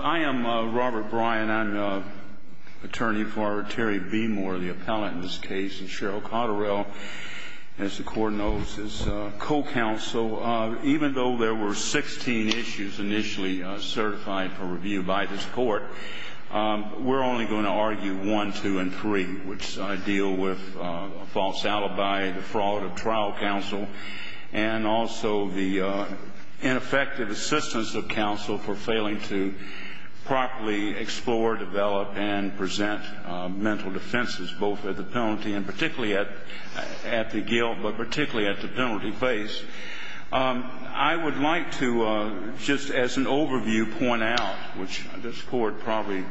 I am Robert Bryan. I'm attorney for Terry Bemore, the appellant in this case, and Cheryl Cotterell, as the Court knows, is co-counsel. Even though there were 16 issues initially certified for review by this Court, we're only going to argue 1, 2, and 3, which deal with false alibi, the fraud of trial counsel, and also the ineffective assistance of counsel for failing to properly explore, develop, and present mental defenses, both at the penalty and particularly at the guilt, but particularly at the penalty base. I would like to, just as an overview, point out, which this Court probably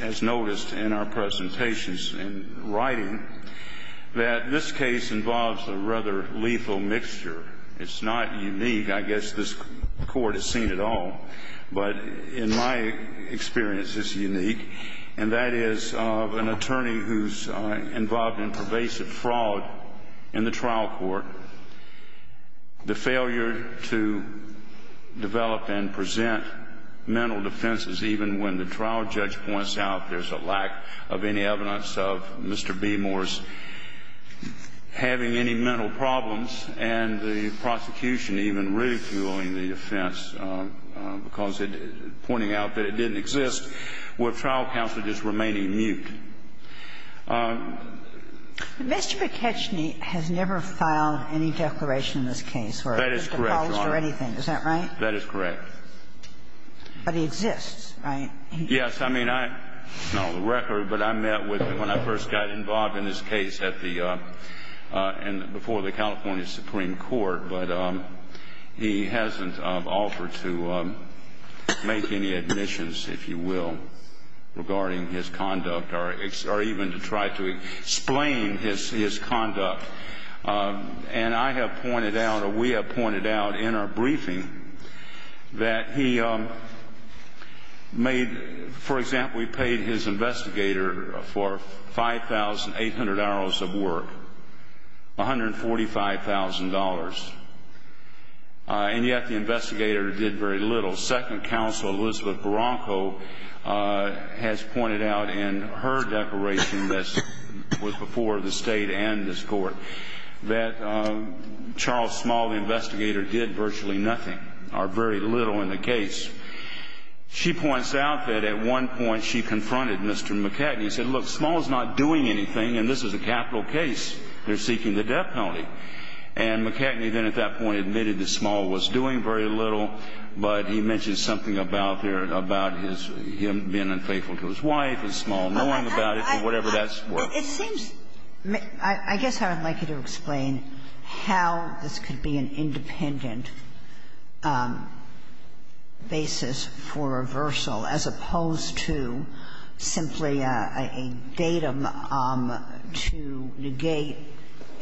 has noticed in our presentations and writing, that this case involves a rather lethal mixture. It's not unique. I guess this Court has seen it all. But in my experience, it's unique, and that is of an attorney who's involved in pervasive fraud in the trial court, the failure to develop and present mental defenses even when the trial judge points out there's a lack of any evidence of Mr. Bemore's having any mental problems, and the prosecution even ridiculing the offense because it — pointing out that it didn't exist, with trial counsel just remaining mute. Mr. Peketchny has never filed any declaration in this case, or at the college or anything. That is correct, Your Honor. Is that right? That is correct. But he exists, right? Yes. I mean, not on the record, but I met with him when I first got involved in this case at the — before the California Supreme Court. But he hasn't offered to make any admissions, if you will, regarding his conduct or even to try to explain his conduct. And I have pointed out, or we have pointed out in our briefing, that he made — for example, he paid his investigator for 5,800 hours of work, $145,000. And yet the investigator did very little. Elizabeth Barranco has pointed out in her declaration that was before the State and this Court that Charles Small, the investigator, did virtually nothing, or very little in the case. She points out that at one point she confronted Mr. Peketchny and said, look, Small is not doing anything, and this is a capital case. They're seeking the death penalty. And Peketchny then at that point admitted that Small was doing very little, but he mentions something about his — him being unfaithful to his wife and Small knowing about it and whatever that's worth. I guess I would like you to explain how this could be an independent basis for reversal, as opposed to simply a datum to negate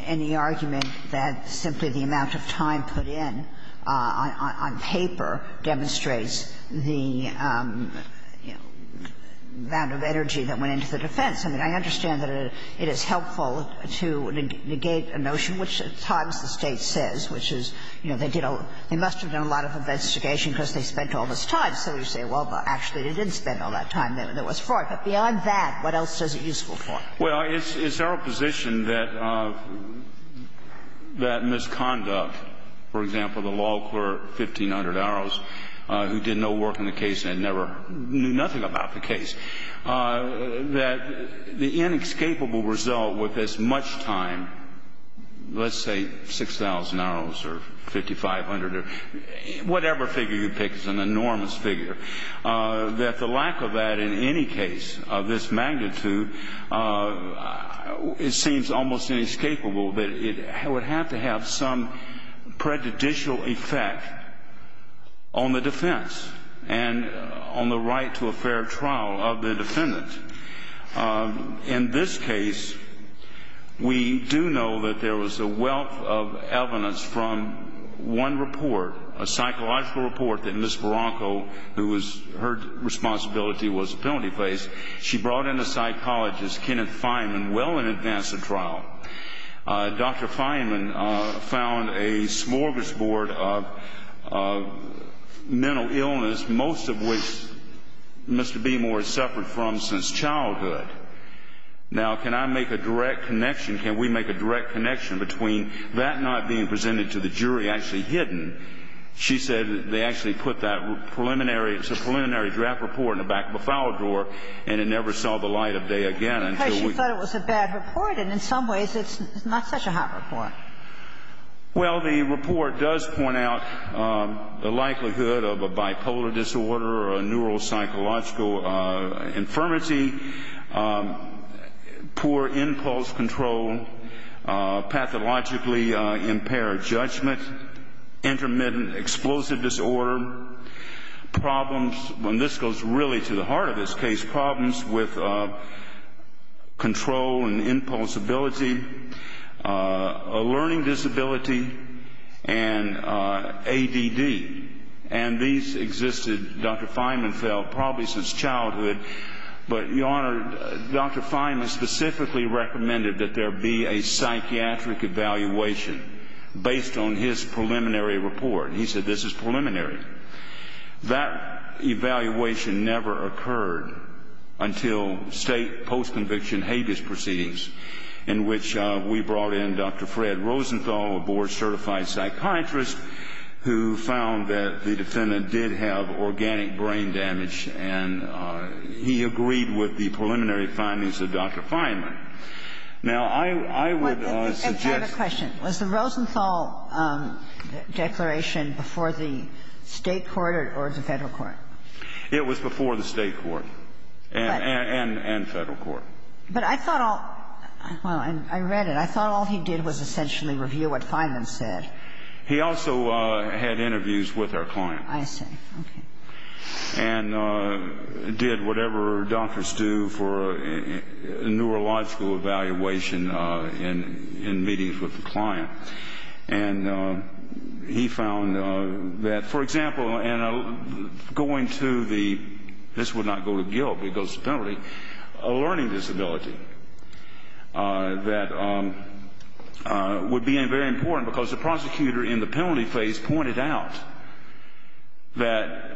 any argument that simply the amount of time put in on paper demonstrates the amount of energy that went into the defense. I mean, I understand that it is helpful to negate a notion, which at times the State says, which is, you know, they did all — they must have done a lot of investigation because they spent all this time. So you say, well, actually, they didn't spend all that time that was for it. But beyond that, what else is it useful for? Well, it's our position that misconduct, for example, the law clerk, 1,500 hours, who did no work on the case and never knew nothing about the case, that the inescapable result with this much time, let's say 6,000 hours or 5,500 or whatever figure you pick is an enormous figure, that the lack of that in any case of this magnitude, it seems almost inescapable that it would have to have some prejudicial effect on the defense and on the right to a fair trial of the defendant. In this case, we do know that there was a wealth of evidence from one report, a psychological report that Ms. Barranco, who was — her responsibility was a felony case. She brought in a psychologist, Kenneth Feynman, well in advance of trial. Dr. Feynman found a smorgasbord of mental illness, most of which Mr. Beemore suffered from since childhood. Now, can I make a direct connection, can we make a direct connection between that not being presented to the jury, actually hidden? She said they actually put that preliminary — it's a preliminary draft report in the back of the file drawer, and it never saw the light of day again until we — Because she thought it was a bad report, and in some ways it's not such a hot report. Well, the report does point out the likelihood of a bipolar disorder or a neuropsychological infirmity, poor impulse control, pathologically impaired judgment, intermittent explosive disorder, problems — and this goes really to the heart of this case — problems with control and impulse ability, a learning disability, and ADD. And these existed, Dr. Feynman felt, probably since childhood. But, Your Honor, Dr. Feynman specifically recommended that there be a psychiatric evaluation based on his preliminary report. He said this is preliminary. That evaluation never occurred until state post-conviction habeas proceedings, in which we brought in Dr. Fred Rosenthal, a board-certified psychiatrist who found that the defendant did have organic brain damage. And he agreed with the preliminary findings of Dr. Feynman. Now, I would suggest — I have a question. Was the Rosenthal declaration before the State court or the Federal court? It was before the State court and Federal court. But I thought all — well, I read it. I thought all he did was essentially review what Feynman said. He also had interviews with our client. I see. Okay. And did whatever doctors do for a neurological evaluation in meetings with the client. And he found that, for example, in going to the — this would not go to guilt, but it goes to penalty — a learning disability that would be very important, because the prosecutor in the penalty phase pointed out that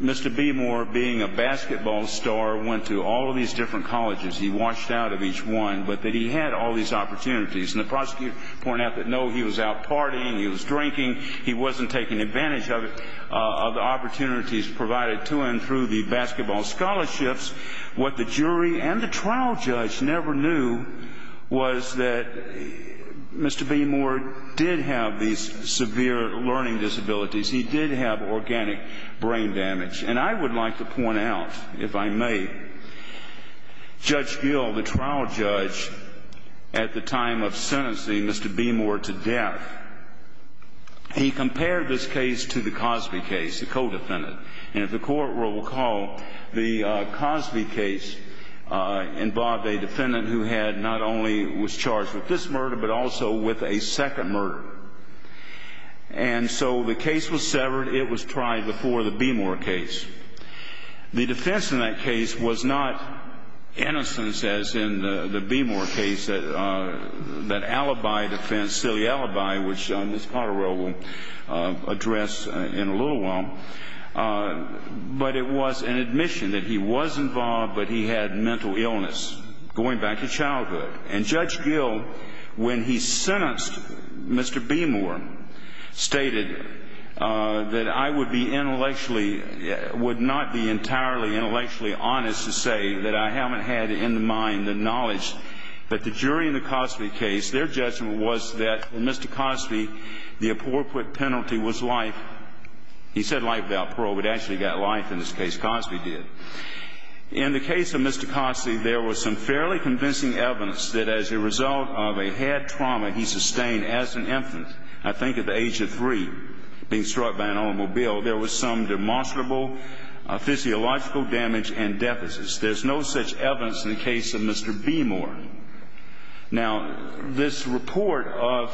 Mr. B. Moore, being a basketball star, went to all of these different colleges. He washed out of each one, but that he had all these opportunities. And the prosecutor pointed out that, no, he was out partying, he was drinking, he wasn't taking advantage of the opportunities provided to him through the basketball scholarships. What the jury and the trial judge never knew was that Mr. B. Moore did have these severe learning disabilities. He did have organic brain damage. And I would like to point out, if I may, Judge Gill, the trial judge, at the time of sentencing Mr. B. Moore to death, he compared this case to the Cosby case, the co-defendant. And if the court will recall, the Cosby case involved a defendant who had not only — was charged with this murder, but also with a second murder. And so the case was severed. It was tried before the B. Moore case. The defense in that case was not innocence, as in the B. Moore case, that alibi defense, silly alibi, which Ms. Potterill will address in a little while. But it was an admission that he was involved, but he had mental illness going back to childhood. And Judge Gill, when he sentenced Mr. B. Moore, stated that I would be intellectually — would not be entirely intellectually honest to say that I haven't had in the mind the knowledge. But the jury in the Cosby case, their judgment was that in Mr. Cosby, the appropriate penalty was life. He said life without parole, but it actually got life in this case. Cosby did. In the case of Mr. Cosby, there was some fairly convincing evidence that as a result of a head trauma he sustained as an infant, I think at the age of three, being struck by an automobile, there was some demonstrable physiological damage and deficits. There's no such evidence in the case of Mr. B. Moore. Now, this report of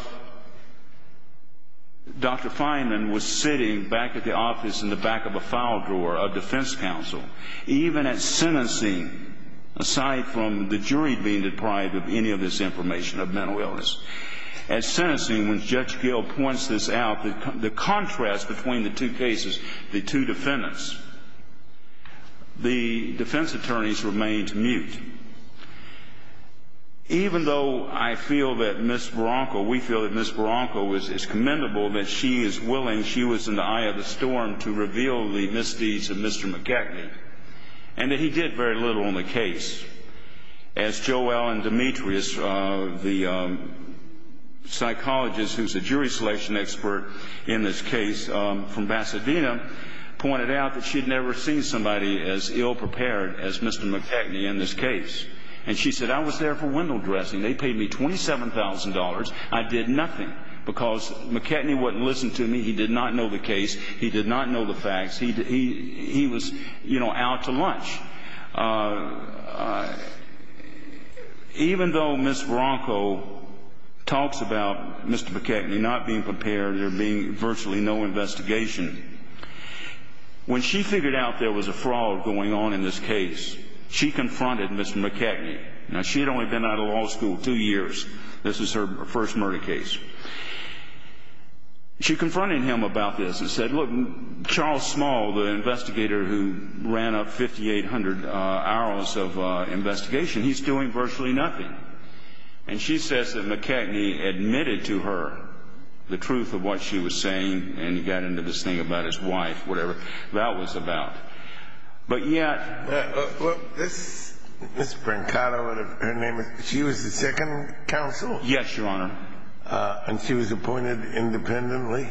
Dr. Fineman was sitting back at the office in the back of a file drawer of defense counsel. Even at sentencing, aside from the jury being deprived of any of this information of mental illness, at sentencing when Judge Gill points this out, the contrast between the two cases, the two defendants, the defense attorneys remained mute. Even though I feel that Ms. Baranko, we feel that Ms. Baranko is commendable, that she is willing, she was in the eye of the storm to reveal the misdeeds of Mr. McKechnie, and that he did very little in the case. As Joe Allen Demetrius, the psychologist who's a jury selection expert in this case from Pasadena, pointed out that she had never seen somebody as ill-prepared as Mr. McKechnie in this case. And she said, I was there for window dressing. They paid me $27,000. I did nothing because McKechnie wouldn't listen to me. He did not know the case. He did not know the facts. He was, you know, out to lunch. Even though Ms. Baranko talks about Mr. McKechnie not being prepared, there being virtually no investigation, when she figured out there was a fraud going on in this case, she confronted Mr. McKechnie. Now, she had only been out of law school two years. This is her first murder case. She confronted him about this and said, look, Charles Small, the investigator who ran up $5,800, hours of investigation, he's doing virtually nothing. And she says that McKechnie admitted to her the truth of what she was saying and got into this thing about his wife, whatever that was about. But yet – Well, Ms. Baranko, her name was – she was the second counsel? Yes, Your Honor. And she was appointed independently?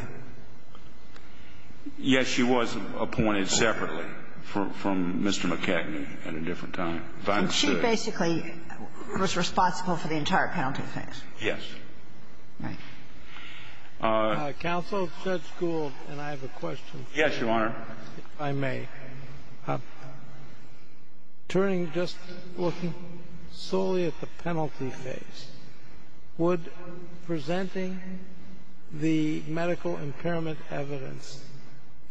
Yes, she was appointed separately from Mr. McKechnie at a different time. And she basically was responsible for the entire penalty phase? Yes. Right. Counsel, Judge Gould and I have a question. Yes, Your Honor. If I may. Turning just looking solely at the penalty phase, would presenting the medical impairment evidence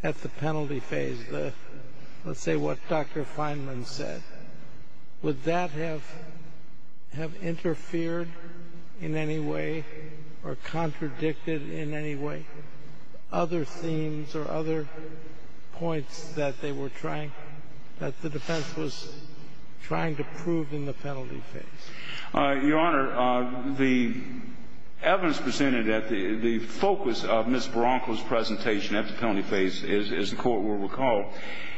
at the penalty phase, let's say what Dr. Fineman said, would that have interfered in any way or contradicted in any way other themes or other points that they were trying – that the defense was trying to prove in the penalty phase? Your Honor, the evidence presented at the – the focus of Ms. Baranko's presentation at the penalty phase, as the court will recall,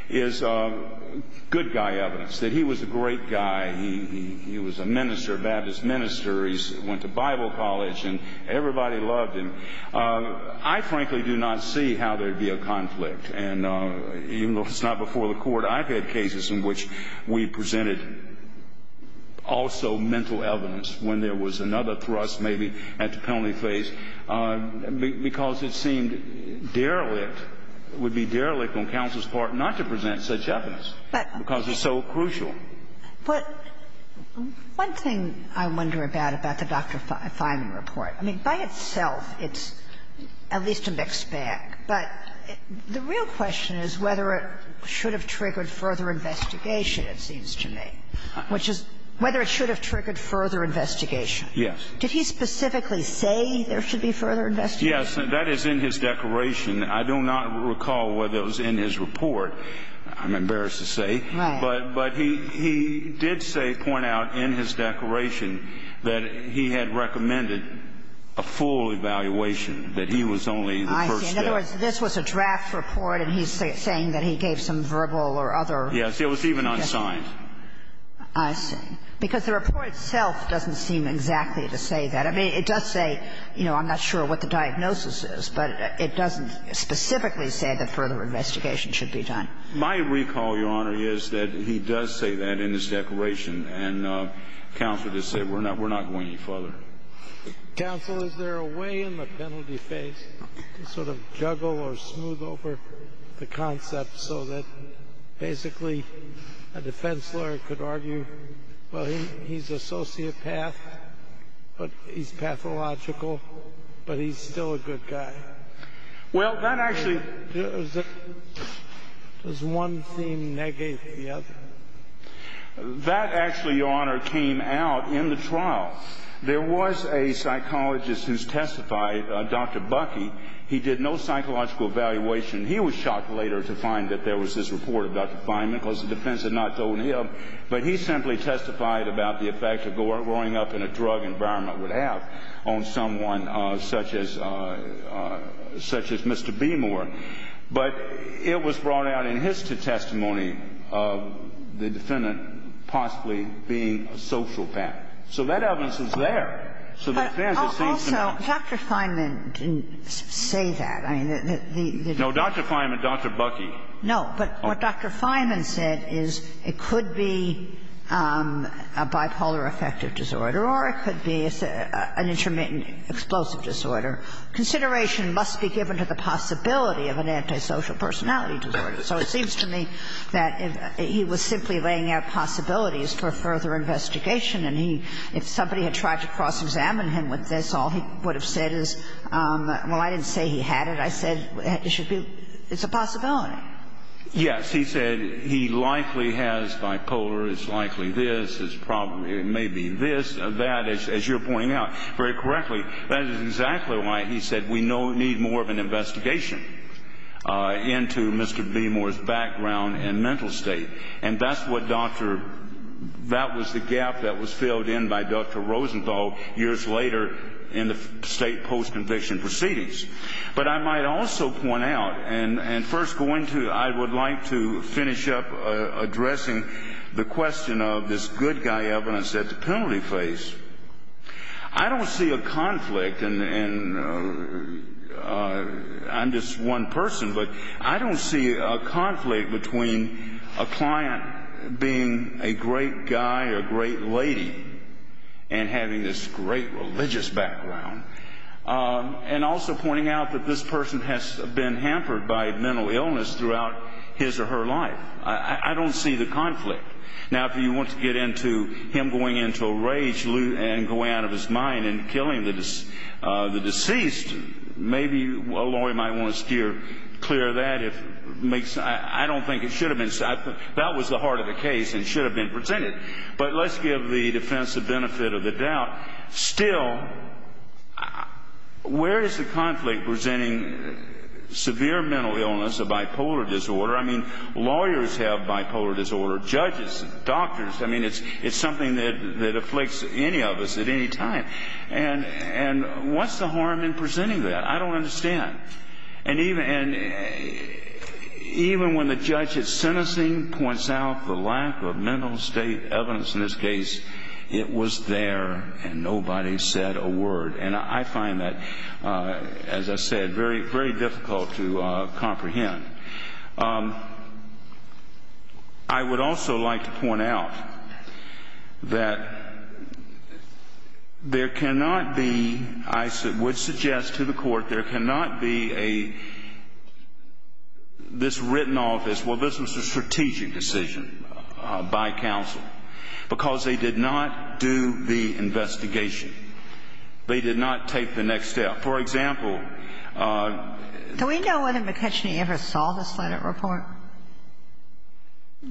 is good guy evidence, that he was a great guy. He was a minister, a Baptist minister. He went to Bible college, and everybody loved him. I frankly do not see how there would be a conflict, and even though it's not before the court, I've had cases in which we presented also mental evidence when there was another thrust maybe at the penalty phase, because it seemed derelict, it would be derelict on counsel's part not to present such evidence, because it's so crucial. But one thing I wonder about, about the Dr. Fineman report, I mean, by itself, it's at least a mixed bag. But the real question is whether it should have triggered further investigation, it seems to me, which is whether it should have triggered further investigation. Yes. Did he specifically say there should be further investigation? Yes. That is in his declaration. I do not recall whether it was in his report. I'm embarrassed to say. Right. But he did say, point out in his declaration, that he had recommended a full evaluation, that he was only the first step. I see. In other words, this was a draft report, and he's saying that he gave some verbal or other. Yes. It was even unsigned. I see. Because the report itself doesn't seem exactly to say that. I mean, it does say, you know, I'm not sure what the diagnosis is, but it doesn't specifically say that further investigation should be done. My recall, Your Honor, is that he does say that in his declaration, and counsel just said we're not going any further. Counsel, is there a way in the penalty phase to sort of juggle or smooth over the concept so that basically a defense lawyer could argue, well, he's a sociopath, but he's pathological, but he's still a good guy? Well, that actually. Does one seem negative to the other? That actually, Your Honor, came out in the trial. There was a psychologist who testified, Dr. Bucky. He did no psychological evaluation. He was shocked later to find that there was this report of Dr. Fineman, because the defense had not told him, but he simply testified about the effect that growing up in a drug environment would have on someone such as Mr. Beemore. But it was brought out in his testimony of the defendant possibly being a sociopath. So that evidence is there. So the defense, it seems to me. But also, Dr. Fineman didn't say that. No, Dr. Fineman, Dr. Bucky. No, but what Dr. Fineman said is it could be a bipolar affective disorder or it could be an intermittent explosive disorder. Consideration must be given to the possibility of an antisocial personality disorder. So it seems to me that he was simply laying out possibilities for further investigation, and if somebody had tried to cross-examine him with this, all he would have said is, well, I didn't say he had it. I said it's a possibility. Yes. Yes, he said he likely has bipolar. It's likely this. It may be this. That, as you're pointing out very correctly, that is exactly why he said we need more of an investigation into Mr. Beemore's background and mental state. And that was the gap that was filled in by Dr. Rosenthal years later in the state post-conviction proceedings. But I might also point out and first go into I would like to finish up addressing the question of this good guy evidence that the penalty faced. I don't see a conflict, and I'm just one person, but I don't see a conflict between a client being a great guy or a great lady and having this great religious background. And also pointing out that this person has been hampered by mental illness throughout his or her life. I don't see the conflict. Now, if you want to get into him going into a rage and going out of his mind and killing the deceased, maybe a lawyer might want to steer clear of that. I don't think it should have been. That was the heart of the case and should have been presented. But let's give the defense the benefit of the doubt. Still, where is the conflict presenting severe mental illness, a bipolar disorder? I mean, lawyers have bipolar disorder, judges, doctors. I mean, it's something that afflicts any of us at any time. And what's the harm in presenting that? I don't understand. And even when the judge is sentencing, points out the lack of mental state evidence in this case, it was there and nobody said a word. And I find that, as I said, very difficult to comprehend. I would also like to point out that there cannot be, I would suggest to the Court, there cannot be a, this written office, well, this was a strategic decision by counsel, because they did not do the investigation. They did not take the next step. For example. Do we know whether McKechnie ever saw the Senate report?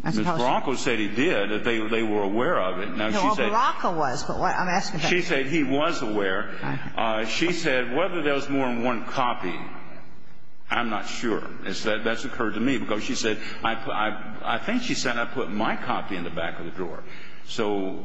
Ms. Baraka said he did, that they were aware of it. No, Baraka was, but I'm asking. She said he was aware. She said whether there was more than one copy, I'm not sure. That's occurred to me, because she said, I think she said I put my copy in the back of the drawer. So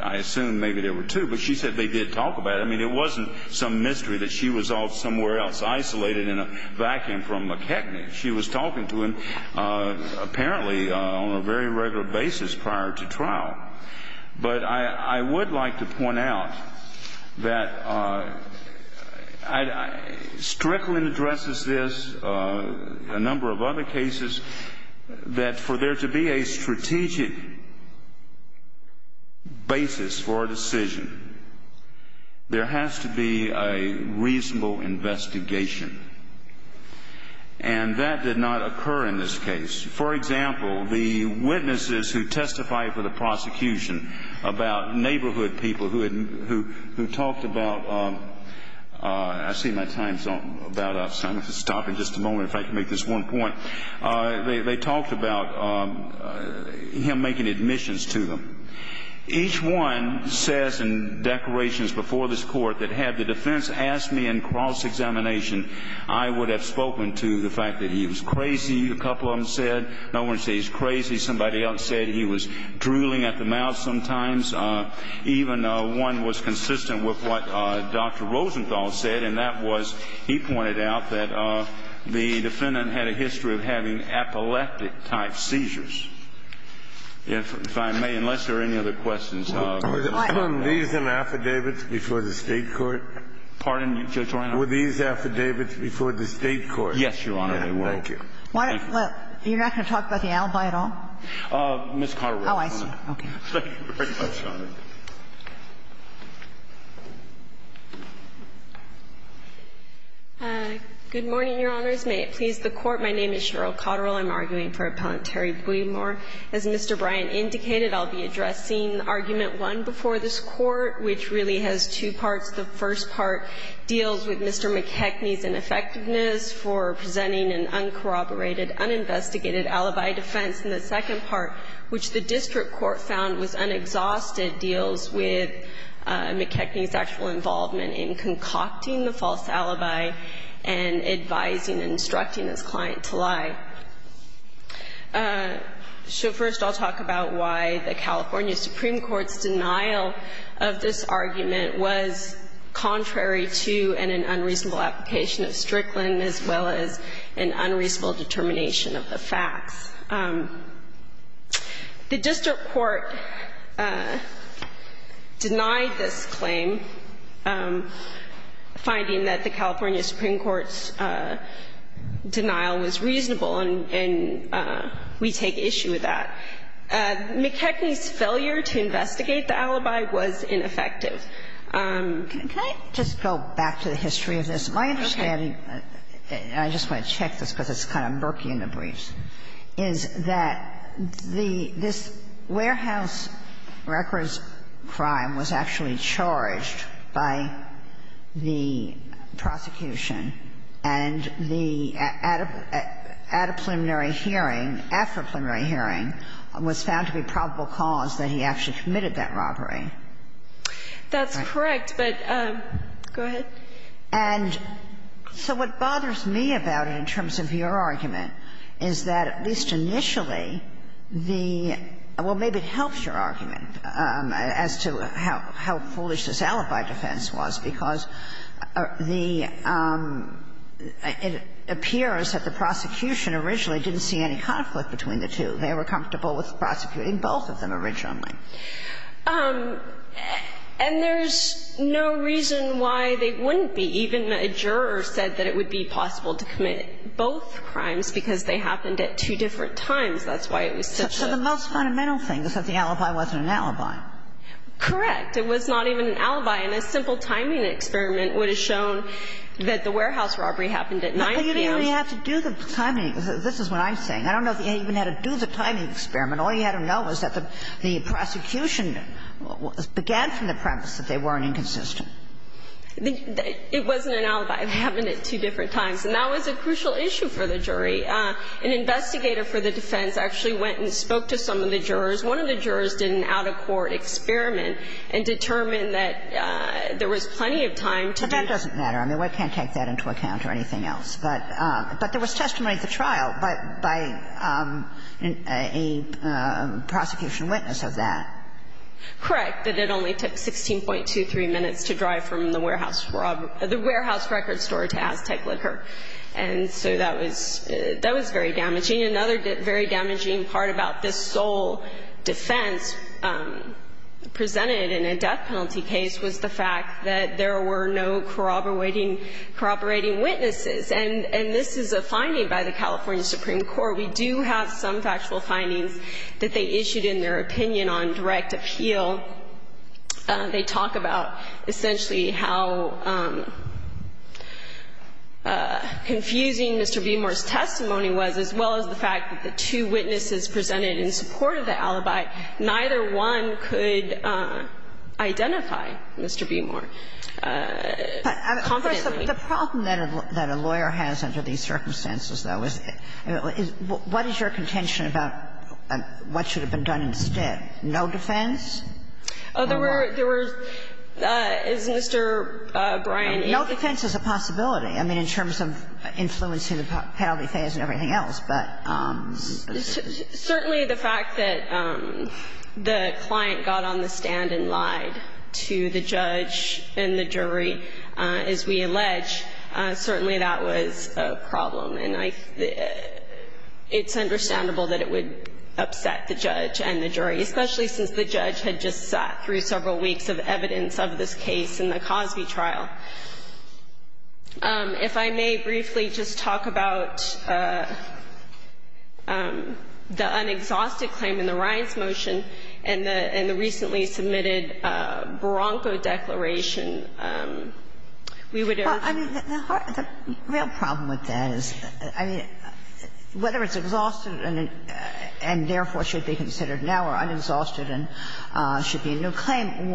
I assume maybe there were two. But she said they did talk about it. I mean, it wasn't some mystery that she was off somewhere else isolated in a vacuum from McKechnie. She was talking to him apparently on a very regular basis prior to trial. But I would like to point out that Strickland addresses this, a number of other cases, that for there to be a strategic basis for a decision, there has to be a reasonable investigation. And that did not occur in this case. For example, the witnesses who testified for the prosecution about neighborhood people who talked about, I see my time's about up, so I'm going to stop in just a moment if I can make this one point. They talked about him making admissions to them. Each one says in declarations before this court that had the defense asked me in cross-examination, I would have spoken to the fact that he was crazy, a couple of them said. No one said he's crazy. Somebody else said he was drooling at the mouth sometimes. Even one was consistent with what Dr. Rosenthal said, and that was he pointed out that the defendant had a history of having epileptic-type seizures. If I may, unless there are any other questions. Were these in affidavits before the State court? Pardon? Were these affidavits before the State court? Yes, Your Honor, they were. Thank you. You're not going to talk about the alibi at all? Ms. Connery. Oh, I see. Okay. Thank you very much, Your Honor. Good morning, Your Honors. May it please the Court. My name is Cheryl Cotterill. I'm arguing for Appellant Terry Bouiemore. As Mr. Bryant indicated, I'll be addressing Argument 1 before this Court, which really has two parts. The first part deals with Mr. McKechnie's ineffectiveness for presenting an uncorroborated, uninvestigated alibi defense. And the second part, which the district court found was unexhausted, deals with McKechnie's actual involvement in concocting the false alibi and advising and instructing his client to lie. So first I'll talk about why the California Supreme Court's denial of this argument was contrary to an unreasonable application of Strickland, as well as an unreasonable determination of the facts. The district court denied this claim, finding that the California Supreme Court's denial was reasonable, and we take issue with that. McKechnie's failure to investigate the alibi was ineffective. Can I just go back to the history of this? Okay. My understanding, and I just want to check this because it's kind of murky in the briefs, is that the this warehouse records crime was actually charged by the prosecution, and the adipoliminary hearing, afripoliminary hearing, was found to be probable cause that he actually committed that robbery. That's correct, but go ahead. And so what bothers me about it in terms of your argument is that at least initially the – well, maybe it helps your argument as to how foolish this alibi defense was, because the – it appears that the prosecution originally didn't see any conflict between the two. They were comfortable with prosecuting both of them originally. And there's no reason why they wouldn't be. Even a juror said that it would be possible to commit both crimes because they happened at two different times. That's why it was such a – So the most fundamental thing is that the alibi wasn't an alibi. Correct. It was not even an alibi, and a simple timing experiment would have shown that the warehouse robbery happened at 9 p.m. But you didn't really have to do the timing. This is what I'm saying. I don't know if you even had to do the timing experiment. All you had to know was that the prosecution began from the premise that they weren't inconsistent. It wasn't an alibi. It happened at two different times. And that was a crucial issue for the jury. An investigator for the defense actually went and spoke to some of the jurors. One of the jurors did an out-of-court experiment and determined that there was plenty of time to do this. But that doesn't matter. I mean, we can't take that into account or anything else. But there was testimony at the trial by a prosecution witness of that. Correct. That it only took 16.23 minutes to drive from the warehouse robbery – the warehouse record store to Aztec Liquor. And so that was – that was very damaging. Another very damaging part about this sole defense presented in a death penalty case was the fact that there were no corroborating – corroborating witnesses. And this is a finding by the California Supreme Court. We do have some factual findings that they issued in their opinion on direct appeal. They talk about essentially how confusing Mr. Beemore's testimony was, as well as the fact that the two witnesses presented in support of the alibi, neither one could identify Mr. Beemore confidently. But the problem that a lawyer has under these circumstances, though, is what is your contention about what should have been done instead? No defense? Oh, there were – there were – as Mr. Bryan indicated. No defense is a possibility. I mean, in terms of influencing the penalty phase and everything else. Certainly the fact that the client got on the stand and lied to the judge and the jury, as we allege, certainly that was a problem. And I – it's understandable that it would upset the judge and the jury, especially since the judge had just sat through several weeks of evidence of this case in the Cosby trial. If I may briefly just talk about the unexhausted claim in the Ryan's motion and the recently submitted Bronco declaration, we would have to – Well, I mean, the real problem with that is, I mean, whether it's exhausted and therefore should be considered now or unexhausted and should be a new claim,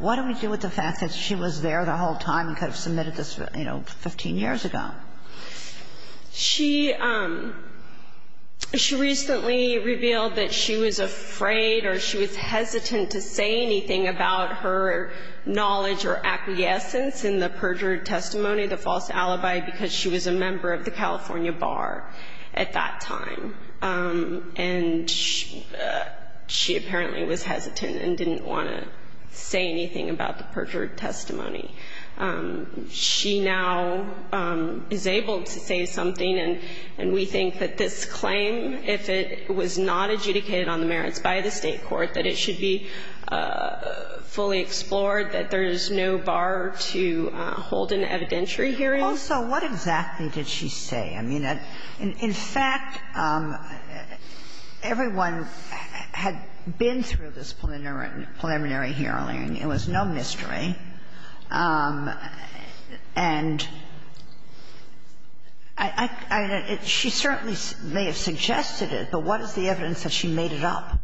what do we do with the fact that she was there the whole time and could have submitted this, you know, 15 years ago? She – she recently revealed that she was afraid or she was hesitant to say anything about her knowledge or acquiescence in the perjured testimony, the false alibi, because she was a member of the California Bar at that time. And she apparently was hesitant and didn't want to say anything about the perjured testimony. She now is able to say something, and we think that this claim, if it was not adjudicated on the merits by the State court, that it should be fully explored, that there is no bar to hold an evidentiary hearing. Also, what exactly did she say? I mean, in fact, everyone had been through this preliminary hearing. It was no mystery. And I – she certainly may have suggested it, but what is the evidence that she made it up?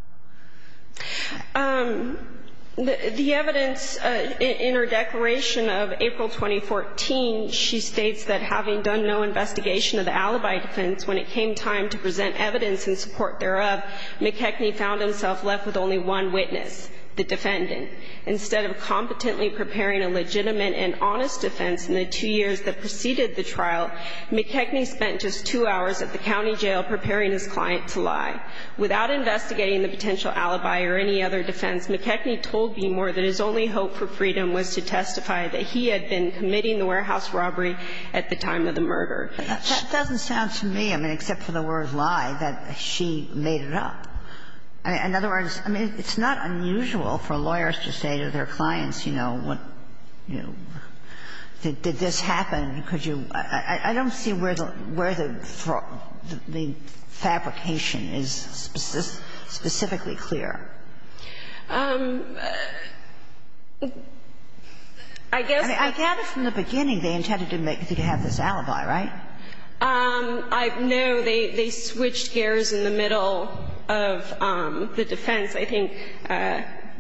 The evidence in her declaration of April 2014, she states that having done no investigation of the alibi defense, when it came time to present evidence in support thereof, McKechnie found himself left with only one witness, the defendant. Instead of competently preparing a legitimate and honest defense in the two years that preceded the trial, McKechnie spent just two hours at the county jail preparing his client to lie. Without investigating the potential alibi or any other defense, McKechnie told Behmor that his only hope for freedom was to testify that he had been committing the warehouse robbery at the time of the murder. That doesn't sound to me, I mean, except for the word lie, that she made it up. In other words, I mean, it's not unusual for lawyers to say to their clients, you know, what, you know, did this happen? Could you – I don't see where the – where the McKechnie fabrication is specifically clear. I guess the – I mean, I gather from the beginning they intended to make you have this alibi, right? No. They switched gears in the middle of the defense. I think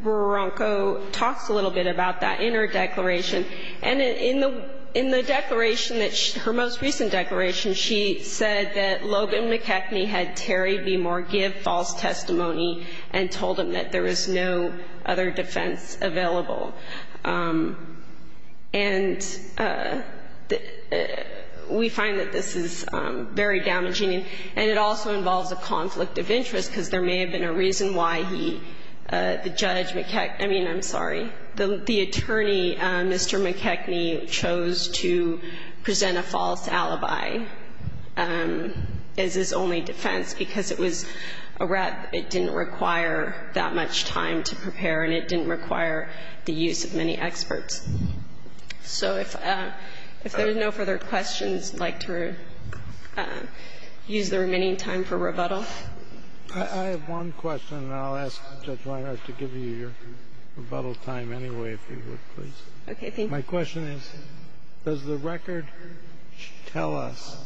Roronco talks a little bit about that in her declaration. And in the declaration that – her most recent declaration, she said that Logan McKechnie had Terry Behmor give false testimony and told him that there was no other defense available. And we find that this is very damaging. And it also involves a conflict of interest, because there may have been a reason why he – the judge McKechnie – I mean, I'm sorry, the attorney, Mr. McKechnie chose to present a false alibi as his only defense, because it was a rep that didn't require that much time to prepare and it didn't require the use of many experts. So if there are no further questions, I'd like to use the remaining time for rebuttal. I have one question, and I'll ask Judge Weinhart to give you your rebuttal time anyway, if you would, please. Okay. Thank you. My question is, does the record tell us,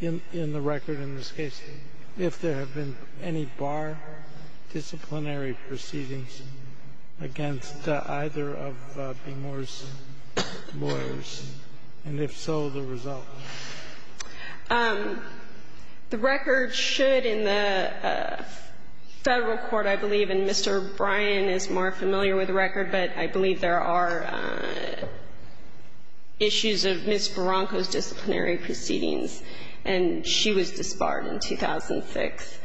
in the record in this case, if there have been any bar disciplinary proceedings against either of Behmor's lawyers, and if so, the result? The record should in the Federal court, I believe, and Mr. Bryan is more familiar with the record, but I believe there are issues of Ms. Barranco's disciplinary proceedings, and she was disbarred in 2006.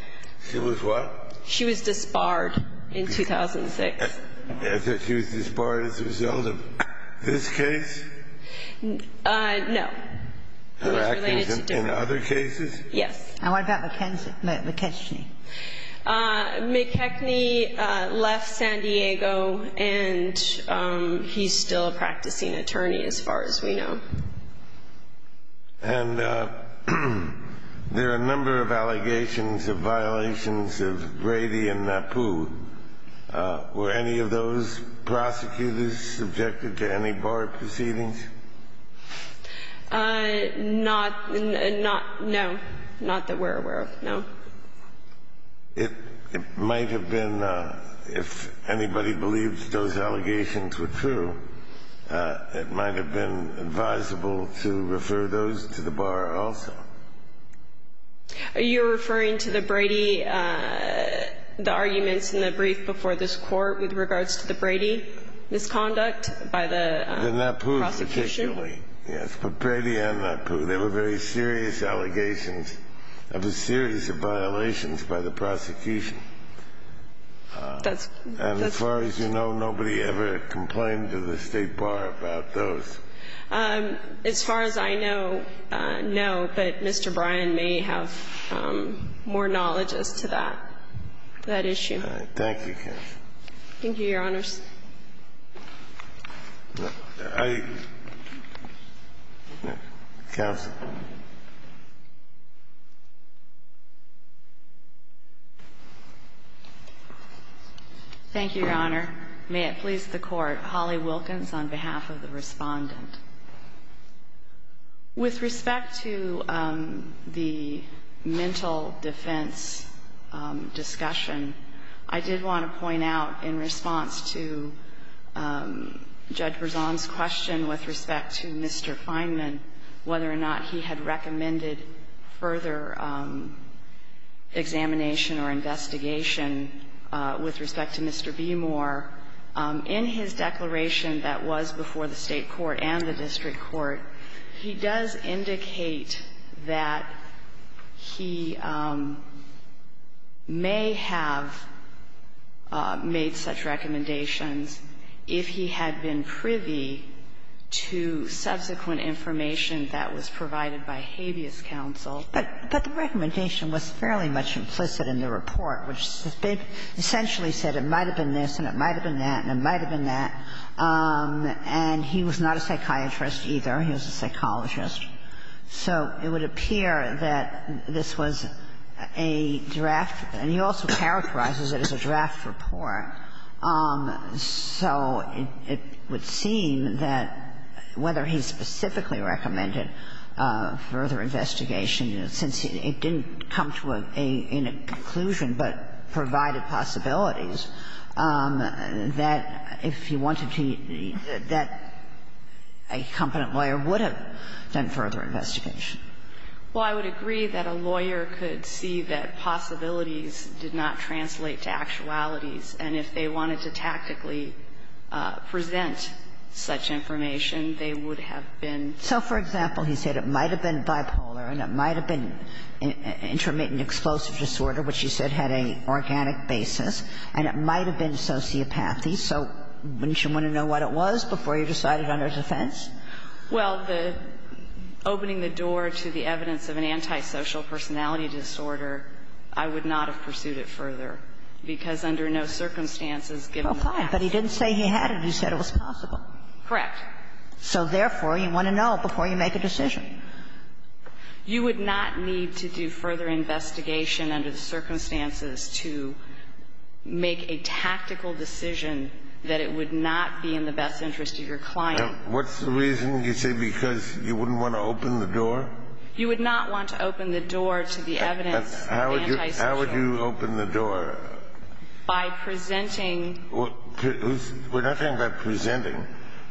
She was what? She was disbarred in 2006. I thought she was disbarred as a result of this case? No. In other cases? Yes. And what about McKechnie? McKechnie left San Diego, and he's still a practicing attorney, as far as we know. And there are a number of allegations of violations of Brady and Napu. Were any of those allegations true? Not that we're aware of, no. It might have been, if anybody believes those allegations were true, it might have been advisable to refer those to the bar also. Are you referring to the Brady, the arguments in the brief before this Court with regards to the Brady misconduct by the process? The Napu particularly, yes, but Brady and Napu, they were very serious allegations of a series of violations by the prosecution. And as far as you know, nobody ever complained to the State Bar about those. As far as I know, no, but Mr. Bryan may have more knowledge as to that, that issue. Thank you, counsel. Thank you, Your Honors. Counsel. Thank you, Your Honor. May it please the Court. Holly Wilkins on behalf of the Respondent. With respect to the mental defense discussion, I did want to point out in response to Judge Berzon's question with respect to Mr. Fineman, whether or not he had recommended further examination or investigation with respect to Mr. Beemore. In his declaration that was before the State court and the district court, he does indicate that he may have made such recommendations if he had been privy to subsequent information that was provided by habeas counsel. But the recommendation was fairly much implicit in the report, which essentially said it might have been this and it might have been that and it might have been that, and he was not a psychiatrist, either. He was a psychologist. So it would appear that this was a draft, and he also characterizes it as a draft report, so it would seem that whether he specifically recommended further investigation since it didn't come to a conclusion but provided possibilities, that if he wanted to, that a competent lawyer would have done further investigation. Well, I would agree that a lawyer could see that possibilities did not translate to actualities, and if they wanted to tactically present such information, they would have been. So, for example, he said it might have been bipolar and it might have been intermittent explosive disorder, which he said had an organic basis, and it might have been sociopathy. So wouldn't you want to know what it was before you decided on his offense? Well, the opening the door to the evidence of an antisocial personality disorder, I would not have pursued it further, because under no circumstances, given the facts of the case. But he didn't say he had it, he said it was possible. Correct. So, therefore, you want to know before you make a decision. You would not need to do further investigation under the circumstances to make a tactical decision that it would not be in the best interest of your client. What's the reason you say because you wouldn't want to open the door? You would not want to open the door to the evidence of antisocial. How would you open the door? By presenting. We're not talking about presenting.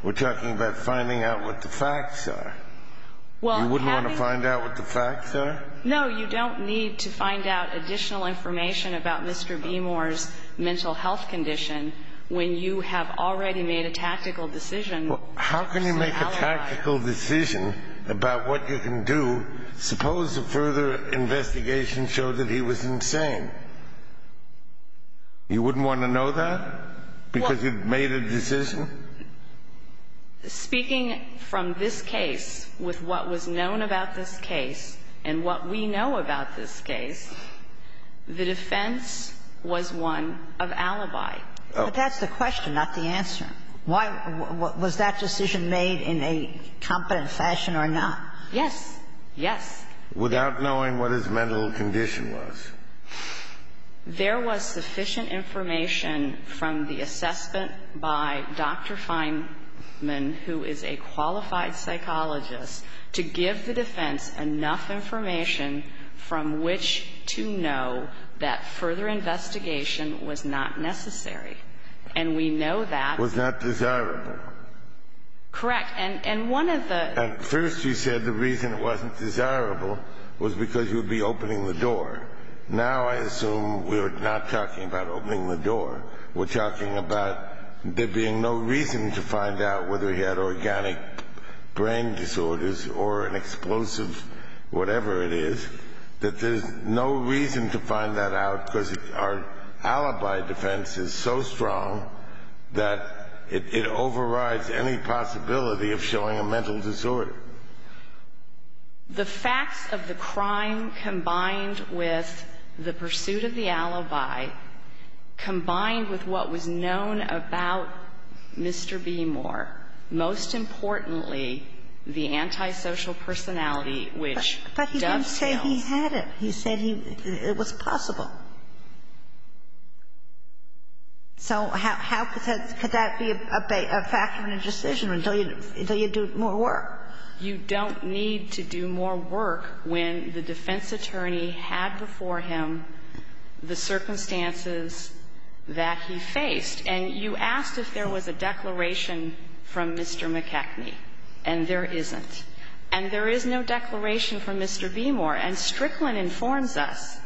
We're talking about finding out what the facts are. You wouldn't want to find out what the facts are? No, you don't need to find out additional information about Mr. Beemore's mental health condition when you have already made a tactical decision. How can you make a tactical decision about what you can do, suppose a further investigation showed that he was insane? You wouldn't want to know that? Because you've made a decision? Speaking from this case with what was known about this case and what we know about this case, the defense was one of alibi. But that's the question, not the answer. Was that decision made in a competent fashion or not? Yes. Yes. Without knowing what his mental condition was? There was sufficient information from the assessment by Dr. Feinman, who is a qualified psychologist, to give the defense enough information from which to know that further investigation was not necessary. And we know that. Was not desirable? Correct. And one of the – And first you said the reason it wasn't desirable was because you would be opening the door. Now I assume we're not talking about opening the door. We're talking about there being no reason to find out whether he had organic brain disorders or an explosive whatever it is, that there's no reason to find that out because our alibi defense is so strong that it overrides any possibility of showing a mental disorder. The facts of the crime combined with the pursuit of the alibi, combined with what was known about Mr. Beemore, most importantly, the antisocial personality which dovetails. But he didn't say he had it. He said it was possible. So how could that be a factor in a decision until you do more work? You don't need to do more work when the defense attorney had before him the circumstances that he faced. And you asked if there was a declaration from Mr. McKechnie. And there isn't. And there is no declaration from Mr. Beemore. And Strickland informs us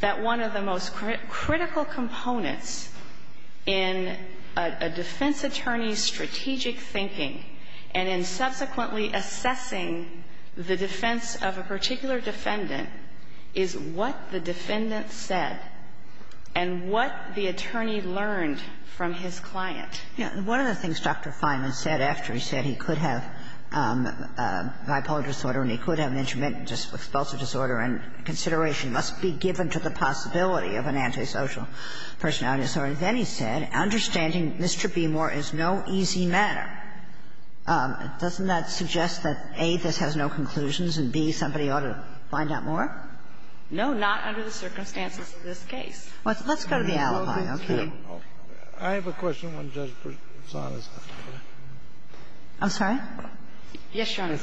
that one of the most critical components in a defense attorney's strategic thinking and in subsequently assessing the defense of a particular defendant is what the defendant said and what the attorney learned from his client. Yeah. One of the things Dr. Fineman said after he said he could have bipolar disorder and he could have an intermittent explosive disorder and consideration must be given to the possibility of an antisocial personality disorder, then he said understanding Mr. Beemore is no easy matter. Doesn't that suggest that, A, this has no conclusions, and, B, somebody ought to find out more? No, not under the circumstances of this case. Let's go to the alibi. Okay. I have a question on Judge Bressona's. I'm sorry? Yes, Your Honor.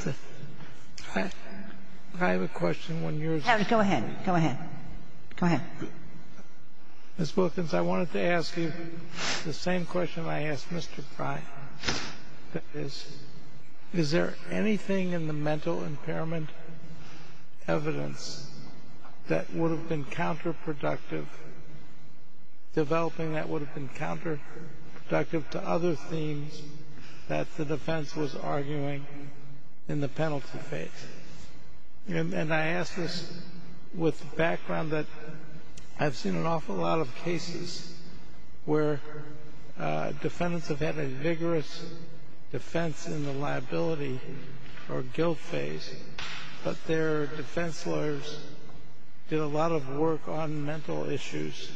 I have a question on your question. Go ahead. Go ahead. Ms. Wilkins, I wanted to ask you the same question I asked Mr. Frye. That is, is there anything in the mental impairment evidence that would have been counterproductive, developing that would have been counterproductive to other themes that the defense was arguing in the penalty phase? And I ask this with the background that I've seen an awful lot of cases where defendants have had a vigorous defense in the liability or guilt phase, but their defense lawyers did a lot of work on mental issues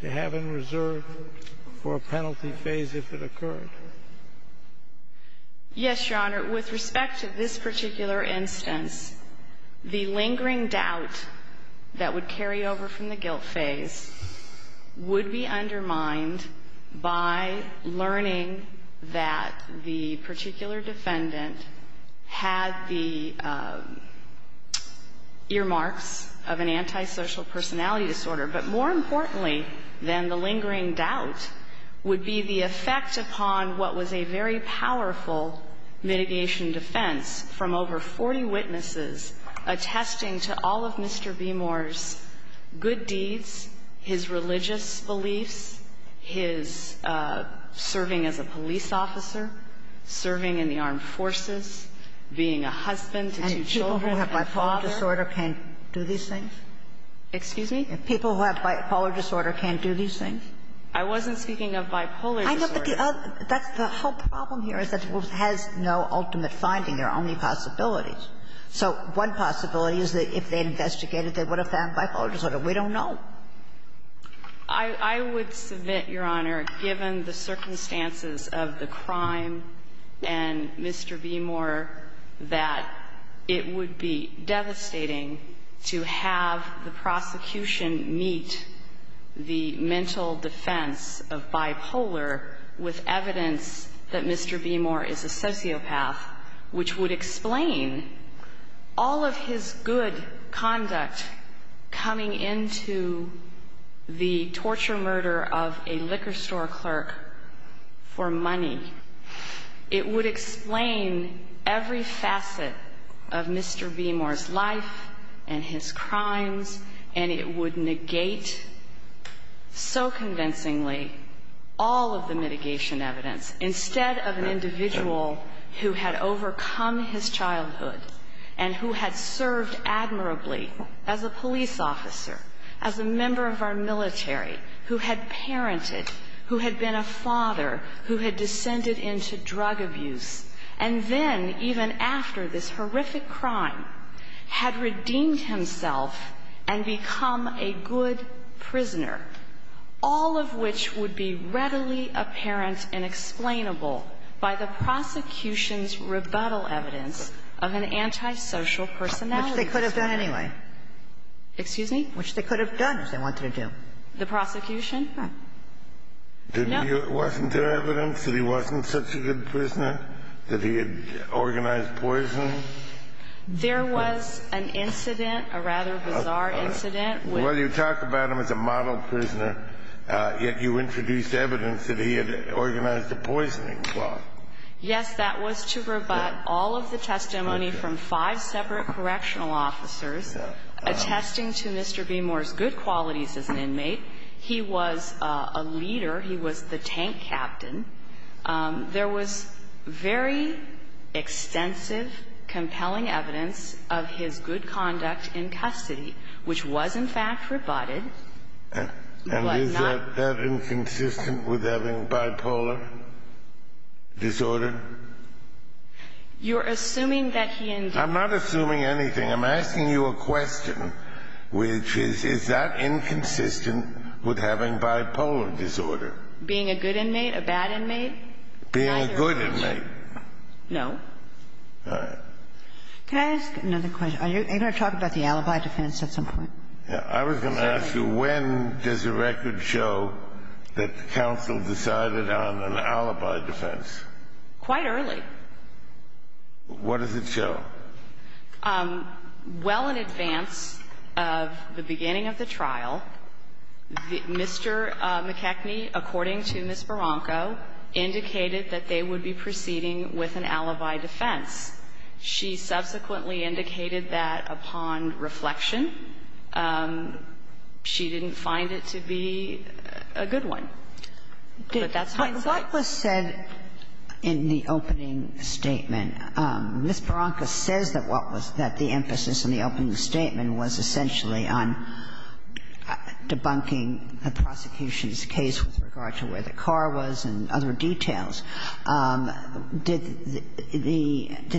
to have in reserve for a penalty phase if it occurred. Yes, Your Honor. With respect to this particular instance, the lingering doubt that would carry over from the guilt phase would be undermined by learning that the particular defendant had the earmarks of an antisocial personality disorder. But more importantly than the lingering doubt would be the effect upon what was a very powerful mitigation defense from over 40 witnesses attesting to all of Mr. Beemore's good deeds, his religious beliefs, his serving as a police officer, serving in the armed forces, being a husband to two children, a father. And people who have bipolar disorder can't do these things? Excuse me? People who have bipolar disorder can't do these things? I wasn't speaking of bipolar disorder. I know, but the other the whole problem here is that it has no ultimate finding. There are only possibilities. So one possibility is that if they investigated, they would have found bipolar disorder. We don't know. I would submit, Your Honor, given the circumstances of the crime and Mr. Beemore, that it would be devastating to have the prosecution meet the mental defense of bipolar disorder with evidence that Mr. Beemore is a sociopath, which would explain all of his good conduct coming into the torture murder of a liquor store clerk for money. It would explain every facet of Mr. Beemore's life and his crimes, and it would negate so convincingly all of the mitigation evidence instead of an individual who had overcome his childhood and who had served admirably as a police officer, as a member of our military, who had parented, who had been a father, who had descended into drug abuse, and then, even after this horrific crime, had redeemed himself and become a good prisoner, all of which would be readily apparent and explainable by the prosecution's rebuttal evidence of an antisocial personality disorder. Which they could have done anyway. Excuse me? Which they could have done if they wanted to. The prosecution? No. Wasn't there evidence that he wasn't such a good prisoner, that he had organized poisoning? There was an incident, a rather bizarre incident. Well, you talk about him as a model prisoner, yet you introduced evidence that he had organized a poisoning plot. Yes, that was to rebut all of the testimony from five separate correctional officers attesting to Mr. Beemore's good qualities as an inmate. He was a leader. He was the tank captain. There was very extensive, compelling evidence of his good conduct in custody, which was, in fact, rebutted. And is that inconsistent with having bipolar disorder? You're assuming that he indeed... I'm not assuming anything. I'm asking you a question, which is, is that inconsistent with having bipolar disorder? Being a good inmate, a bad inmate? Being a good inmate. No. All right. Can I ask another question? Are you going to talk about the alibi defense at some point? I was going to ask you, when does a record show that the counsel decided on an alibi defense? Quite early. What does it show? Well, in advance of the beginning of the trial, Mr. McKechnie, according to Ms. Barranco, indicated that they would be proceeding with an alibi defense. She subsequently indicated that, upon reflection, she didn't find it to be a good one. But that's hindsight. What was said in the opening statement? Ms. Barranco says that what was the emphasis in the opening statement was essentially on debunking the prosecution's case with regard to where the car was and other details. Did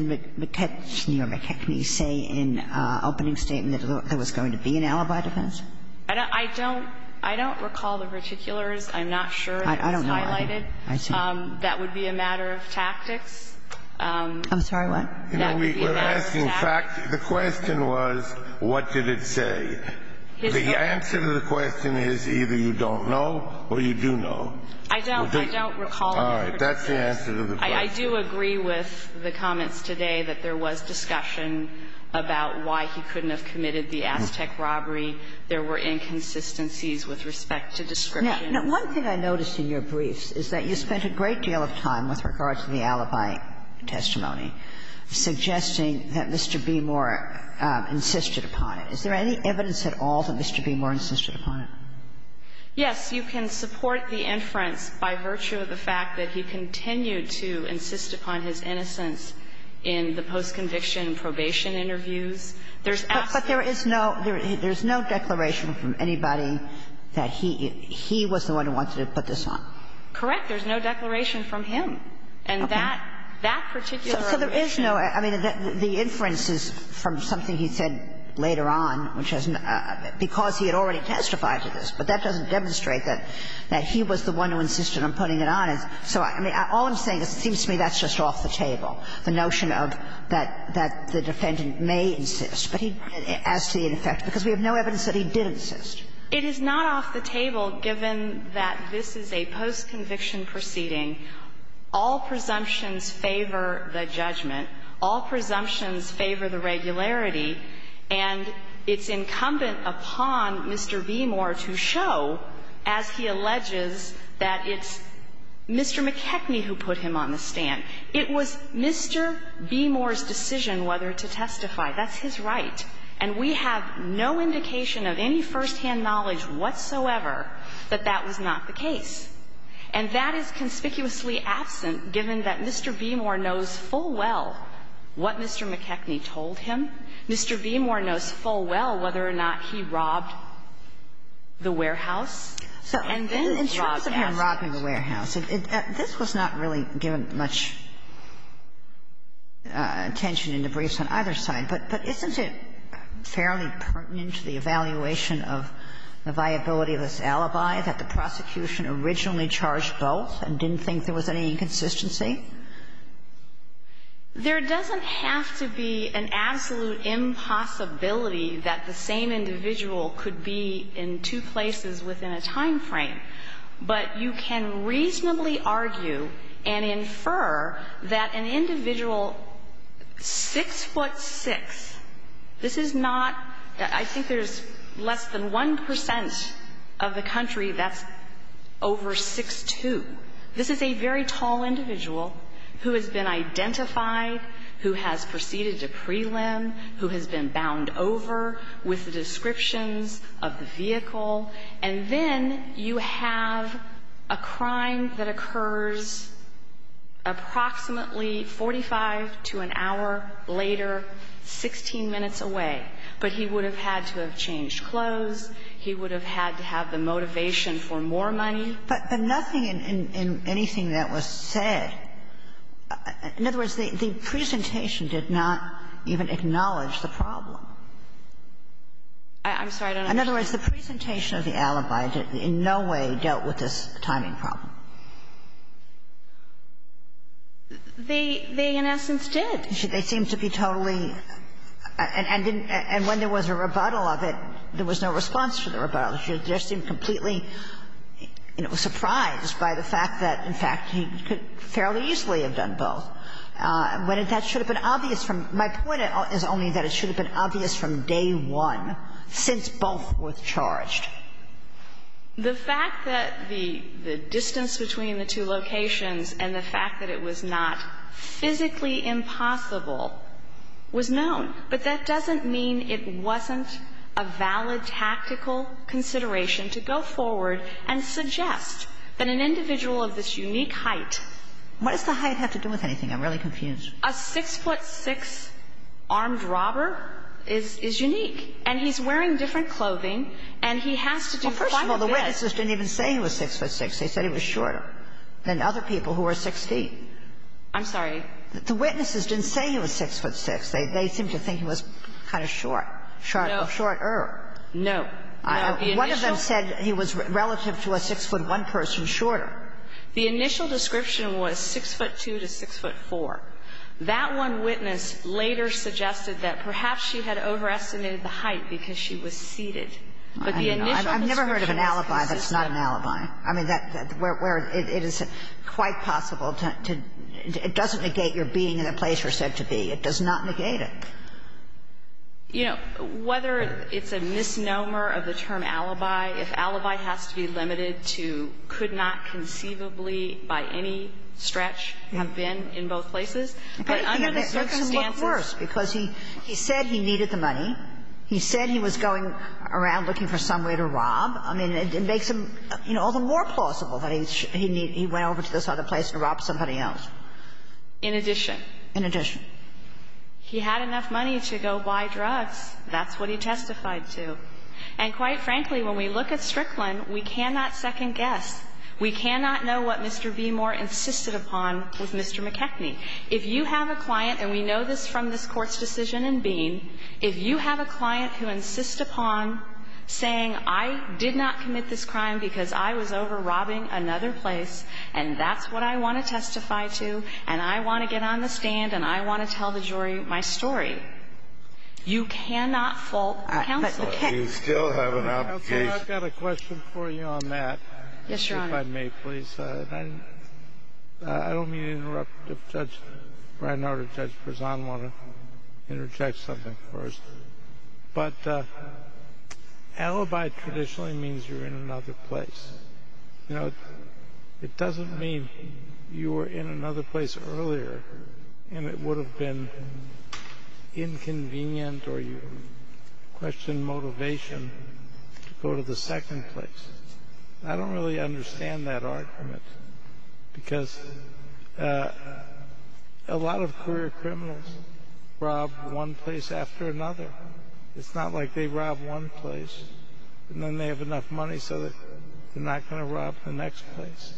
McKechnie say in the opening statement that there was going to be an alibi defense? I don't recall the particulars. I'm not sure it was highlighted. I see. That would be a matter of tactics. I'm sorry, what? That would be a matter of tactics. We're asking facts. The question was what did it say. The answer to the question is either you don't know or you do know. I don't recall the particulars. All right. That's the answer to the question. I do agree with the comments today that there was discussion about why he couldn't have committed the Aztec robbery. There were inconsistencies with respect to description. Now, one thing I noticed in your briefs is that you spent a great deal of time with regard to the alibi testimony suggesting that Mr. Beemore insisted upon it. Is there any evidence at all that Mr. Beemore insisted upon it? Yes. You can support the inference by virtue of the fact that he continued to insist upon his innocence in the post-conviction probation interviews. But there is no declaration from anybody that he was the one who wanted to put this on. Correct. There's no declaration from him. Okay. And that particular allegation. So there is no – I mean, the inference is from something he said later on, which has no – because he had already testified to this. But that doesn't demonstrate that he was the one who insisted on putting it on. So, I mean, all I'm saying is it seems to me that's just off the table, the notion of that the defendant may insist, but he – as to the effect. Because we have no evidence that he did insist. It is not off the table, given that this is a post-conviction proceeding. All presumptions favor the judgment. All presumptions favor the regularity. And it's incumbent upon Mr. Beemore to show, as he alleges, that it's Mr. McKechnie who put him on the stand. It was Mr. Beemore's decision whether to testify. That's his right. And we have no indication of any firsthand knowledge whatsoever that that was not the case. And that is conspicuously absent, given that Mr. Beemore knows full well what Mr. McKechnie told him. Mr. Beemore knows full well whether or not he robbed the warehouse and then robbed him. Kagan. I'm saying that he didn't. He wasn't here robbing the warehouse. This was not really given much attention in the briefs on either side. But isn't it fairly pertinent to the evaluation of the viability of this alibi that the prosecution originally charged both and didn't think there was any inconsistency? There doesn't have to be an absolute impossibility that the same individual could be in two places within a time frame. But you can reasonably argue and infer that an individual 6'6", this is not – I think there's less than 1 percent of the country that's over 6'2". This is a very tall individual who has been identified, who has proceeded to prelim, who has been bound over with the descriptions of the vehicle. And then you have a crime that occurs approximately 45 to an hour later, 16 minutes away, but he would have had to have changed clothes, he would have had to have the motivation for more money. But nothing in anything that was said – in other words, the presentation did not even acknowledge the problem. I'm sorry, I don't understand. In other words, the presentation of the alibi in no way dealt with this timing problem. They, in essence, did. They seemed to be totally – and when there was a rebuttal of it, there was no response to the rebuttal. It just seemed completely, you know, surprised by the fact that, in fact, he could fairly easily have done both. That should have been obvious from – my point is only that it should have been obvious from day one, since both were charged. The fact that the distance between the two locations and the fact that it was not physically impossible was known, but that doesn't mean it wasn't a valid tactical consideration to go forward and suggest that an individual of this unique height – What does the height have to do with anything? I'm really confused. A 6-foot-6 armed robber is unique, and he's wearing different clothing, and he has to do quite a bit – Well, first of all, the witnesses didn't even say he was 6-foot-6. They said he was shorter than other people who were 6 feet. I'm sorry? The witnesses didn't say he was 6-foot-6. They seemed to think he was kind of short, shorter. No. One of them said he was relative to a 6-foot-1 person shorter. The initial description was 6-foot-2 to 6-foot-4. That one witness later suggested that perhaps she had overestimated the height because she was seated. But the initial description is consistent. I've never heard of an alibi that's not an alibi. I mean, where it is quite possible to – it doesn't negate your being in a place you're said to be. It does not negate it. You know, whether it's a misnomer of the term alibi, if alibi has to be limited to could not conceivably by any stretch have been in both places, but under the circumstances – But, you know, that makes him look worse because he said he needed the money. He said he was going around looking for some way to rob. I mean, it makes him, you know, all the more plausible that he went over to this other place to rob somebody else. In addition. In addition. He had enough money to go buy drugs. That's what he testified to. And quite frankly, when we look at Strickland, we cannot second guess. We cannot know what Mr. Beemore insisted upon with Mr. McKechnie. If you have a client, and we know this from this Court's decision in Bean, if you have a client who insists upon saying, I did not commit this crime because I was over robbing another place and that's what I want to testify to and I want to get on the stand and I want to tell the jury my story, you cannot fault counsel. But you still have an obligation. Counselor, I've got a question for you on that. Yes, Your Honor. If I may, please. I don't mean to interrupt. If Judge Bresan wants to interject something first. But alibi traditionally means you're in another place. You know, it doesn't mean you were in another place earlier and it would have been inconvenient or you question motivation to go to the second place. I don't really understand that argument because a lot of career criminals rob one place after another. It's not like they rob one place and then they have enough money so they're not going to rob the next place.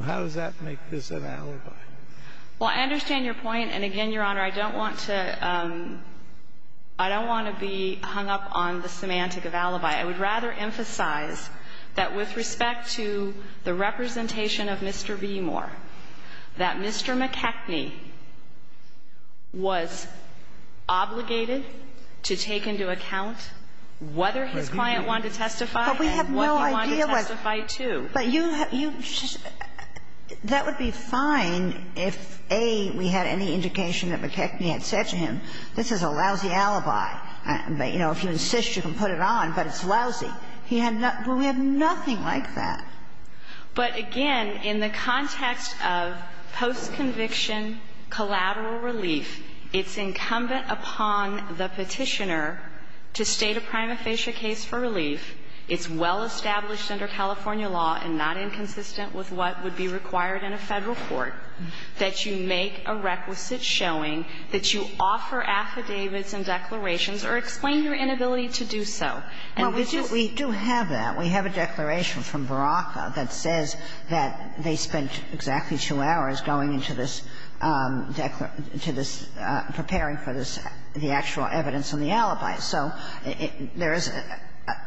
How does that make this an alibi? Well, I understand your point and again, Your Honor, I don't want to be hung up on the semantic of alibi. I would rather emphasize that with respect to the representation of Mr. V. Moore that Mr. McKechnie was obligated to take into account whether his client wanted to testify and what he wanted to testify to. But that would be fine if, A, we had any indication that McKechnie had said to him, this is a lousy alibi. You know, if you insist you can put it on, but it's lousy. We have nothing like that. But again, in the context of post-conviction collateral relief, it's incumbent upon the Petitioner to state a prima facie case for relief. It's well established under California law and not inconsistent with what would be required in a Federal court that you make a requisite showing that you offer affidavits and declarations or explain your inability to do so. Well, we do have that. We have a declaration from Baraka that says that they spent exactly two hours going into this, preparing for this, the actual evidence on the alibi. So there is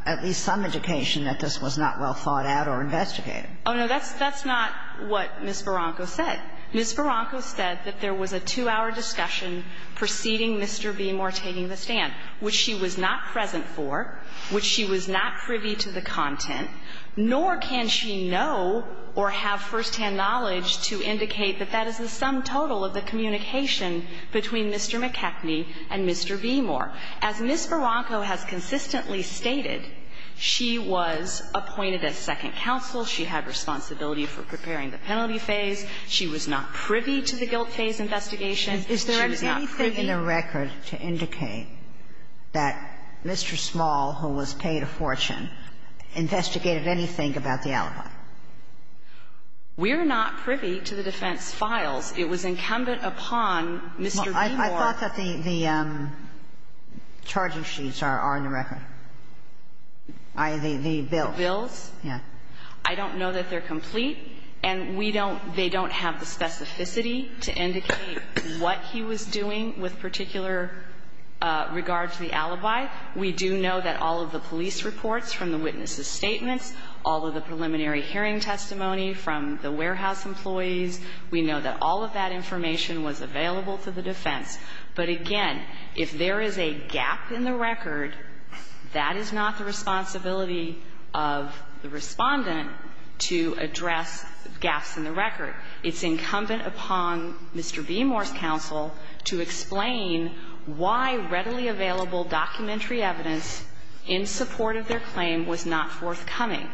at least some education that this was not well thought out or investigated. Oh, no, that's not what Ms. Baraka said. Ms. Baraka said that there was a two-hour discussion preceding Mr. Beemore taking the stand, which she was not present for, which she was not privy to the content, nor can she know or have firsthand knowledge to indicate that that is the sum total of the communication between Mr. McKechnie and Mr. Beemore. As Ms. Baraka has consistently stated, she was appointed as second counsel. She had responsibility for preparing the penalty phase. She was not privy to the guilt phase investigation. She was not privy. Is there anything in the record to indicate that Mr. Small, who was paid a fortune, investigated anything about the alibi? We're not privy to the defense files. It was incumbent upon Mr. Beemore. I thought that the charging sheets are on the record. The bills. The bills? Yeah. I don't know that they're complete, and they don't have the specificity to indicate what he was doing with particular regard to the alibi. We do know that all of the police reports from the witnesses' statements, all of the preliminary hearing testimony from the warehouse employees, we know that all of that information was available to the defense. But again, if there is a gap in the record, that is not the responsibility of the respondent to address gaps in the record. It's incumbent upon Mr. Beemore's counsel to explain why readily available documentary evidence in support of their claim was not forthcoming.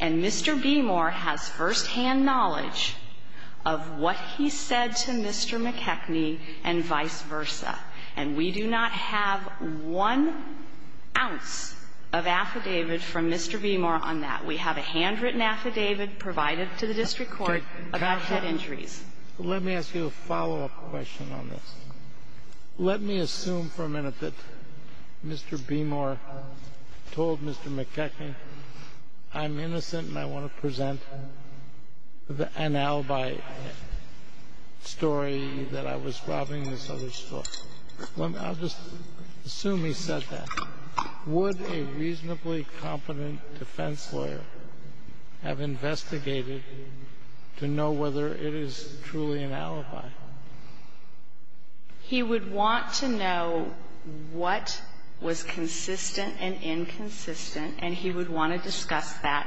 And Mr. Beemore has firsthand knowledge of what he said to Mr. McKechnie and vice versa. And we do not have one ounce of affidavit from Mr. Beemore on that. We have a handwritten affidavit provided to the district court about head injuries. Let me ask you a follow-up question on this. Let me assume for a minute that Mr. Beemore told Mr. McKechnie, I'm innocent and I want to present an alibi story that I was robbing this other store. I'll just assume he said that. Would a reasonably competent defense lawyer have investigated to know whether it is truly an alibi? He would want to know what was consistent and inconsistent and he would want to discuss that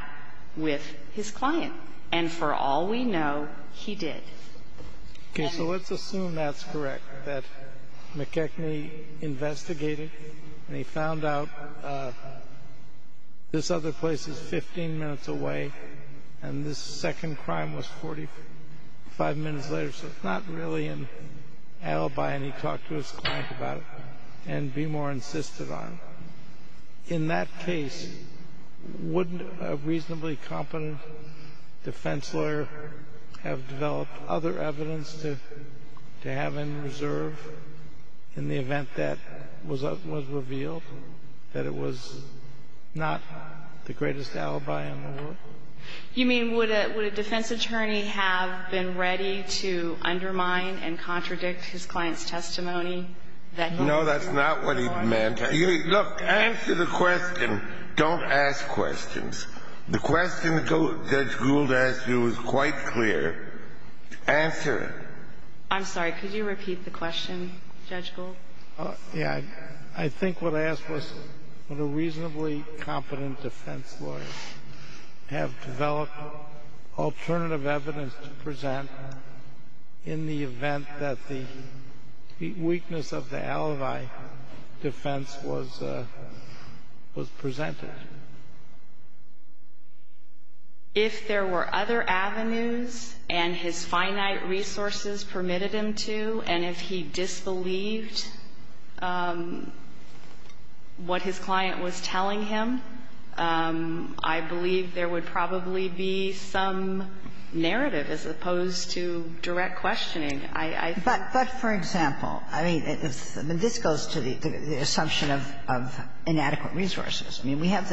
with his client. And for all we know, he did. Okay. So let's assume that's correct, that McKechnie investigated and he found out this other place is 15 minutes away and this second crime was 45 minutes later. So it's not really an alibi and he talked to his client about it and Beemore insisted on it. In that case, wouldn't a reasonably competent defense lawyer have developed other evidence to have in reserve in the event that was revealed that it was not the greatest alibi in the world? You mean would a defense attorney have been ready to undermine and contradict his client's testimony? No, that's not what he meant. Look, answer the question. Don't ask questions. The question Judge Gould asked you was quite clear. Answer it. I'm sorry, could you repeat the question, Judge Gould? Yeah. I think what I asked was would a reasonably competent defense lawyer have developed alternative evidence to present in the event that the weakness of the alibi defense was presented? If there were other avenues and his finite resources permitted him to and if he disbelieved what his client was telling him, I believe there would probably be some narrative as opposed to direct questioning. But for example, I mean, this goes to the assumption of inadequate resources. I mean, we have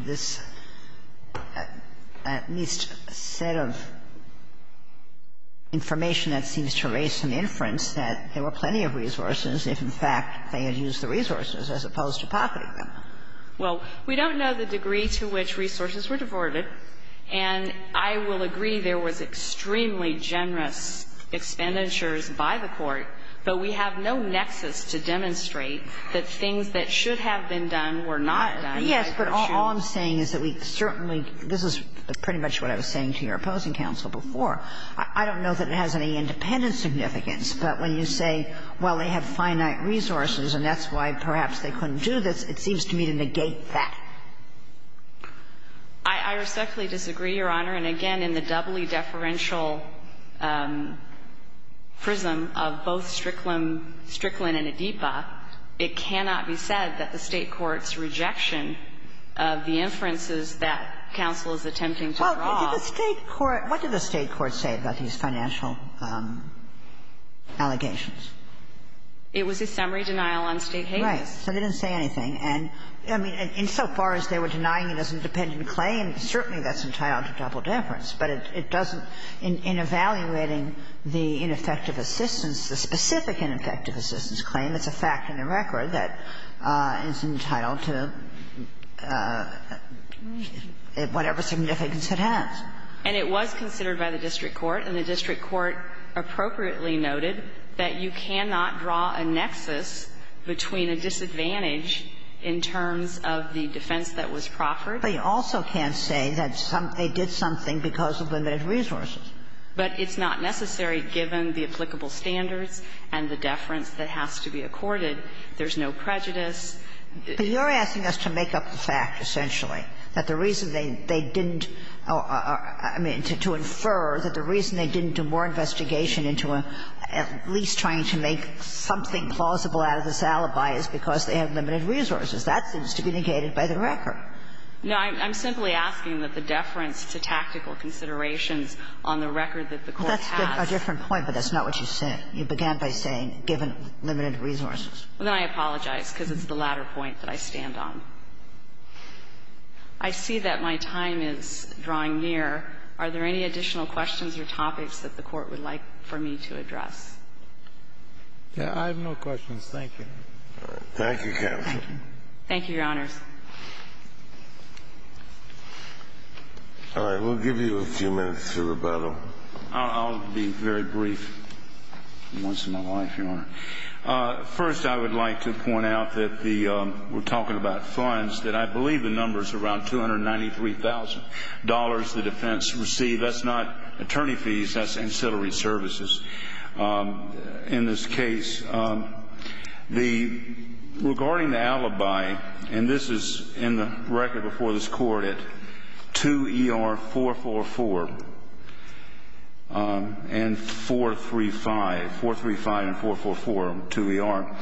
this at least set of information that seems to raise some inference that there were plenty of resources if, in fact, they had used the resources as opposed to pocketing them. Well, we don't know the degree to which resources were diverted, and I will agree there was extremely generous expenditures by the court, but we have no nexus to demonstrate that things that should have been done were not done. Yes, but all I'm saying is that we certainly this is pretty much what I was saying to your opposing counsel before. I don't know that it has any independent significance, but when you say, well, they have finite resources and that's why perhaps they couldn't do this, it seems to me to negate that. I respectfully disagree, Your Honor. And again, in the doubly deferential prism of both Strickland and Adipa, it cannot be said that the State court's rejection of the inferences that counsel is attempting to draw Well, did the State court What did the State court say about these financial allegations? It was a summary denial on state hazards. Right. So they didn't say anything. And, I mean, insofar as they were denying it as an independent claim, certainly that's entitled to double deference, but it doesn't, in evaluating the ineffective assistance, the specific ineffective assistance claim, it's a fact in the record that it's entitled to whatever significance it has. And it was considered by the district court, and the district court appropriately noted that you cannot draw a nexus between a disadvantage in terms of the defense that was proffered. But you also can't say that they did something because of limited resources. But it's not necessary, given the applicable standards and the deference that has to be accorded. There's no prejudice. But you're asking us to make up the fact, essentially, that the reason they didn't I mean, to infer that the reason they didn't do more investigation into at least trying to make something plausible out of this alibi is because they have limited resources. That seems to be negated by the record. No, I'm simply asking that the deference to tactical considerations on the record that the court has That's a different point, but that's not what you said. You began by saying, given limited resources. Well, then I apologize, because it's the latter point that I stand on. I see that my time is drawing near. Are there any additional questions or topics that the Court would like for me to address? I have no questions. Thank you. Thank you, Counsel. Thank you, Your Honors. All right. We'll give you a few minutes to rebuttal. I'll be very brief. Once in my life, Your Honor. First, I would like to point out that we're talking about funds that I believe the number is around $293,000 the defense received. That's not attorney fees. That's ancillary services. In this case, regarding the alibi, and this is in the record before this Court, at 2 ER 444 and 435, 435 and 444, 2 ER,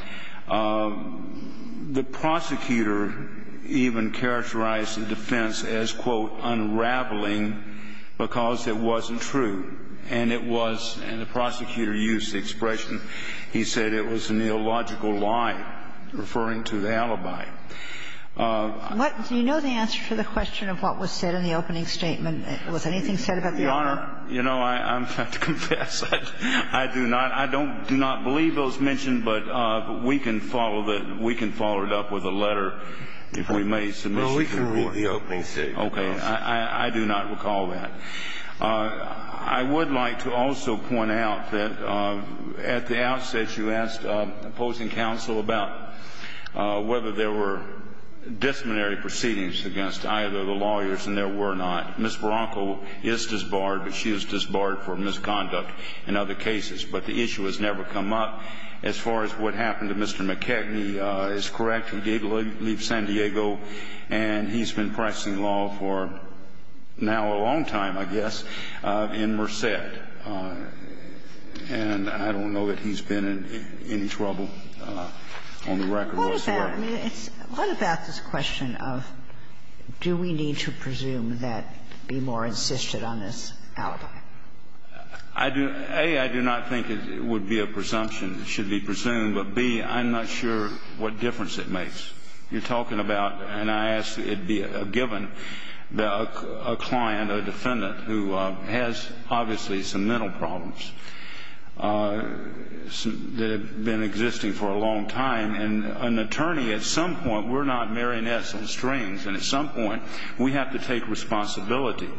the prosecutor even characterized the defense as, quote, unraveling because it wasn't true. And it was, and the prosecutor used the expression, he said it was a neological lie referring to the alibi. Do you know the answer to the question of what was said in the opening statement? Was anything said about the alibi? Your Honor, you know, I have to confess, I do not. I do not believe it was mentioned, but we can follow it up with a letter if we may submission to the Court. Well, we can read the opening statement. Okay. I do not recall that. I would like to also point out that at the outset you asked opposing counsel about whether there were disciplinary proceedings against either of the lawyers, and there were not. Ms. Bronco is disbarred, but she was disbarred for misconduct in other cases. But the issue has never come up as far as what happened to Mr. McKechnie is correct. He did leave San Diego and he's been practicing law for now a long time. I guess. In Merced. And I don't know that he's been in any trouble on the record whatsoever. What about this question of do we need to presume that Beemore insisted on this alibi? I do. A, I do not think it would be a presumption that it should be presumed. But B, I'm not sure what difference it makes. You're talking about and I ask that it be a given that a client, a defendant who has obviously some mental problems that have been existing for a long time and an attorney at some point we're not marionettes on strings and at some point we have to take responsibility.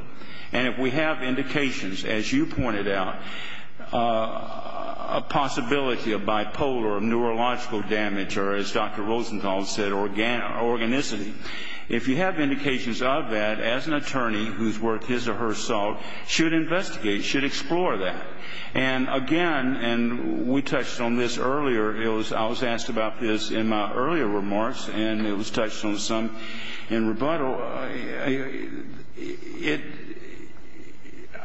And if we have indications as you pointed out a possibility of bipolar or neurological damage or as Dr. Rosenthal said organicity. If you have indications of that as an attorney who's worth his or her salt should investigate should explore that. And again and we touched on this earlier I was asked about this in my earlier remarks and it was touched on some in rebuttal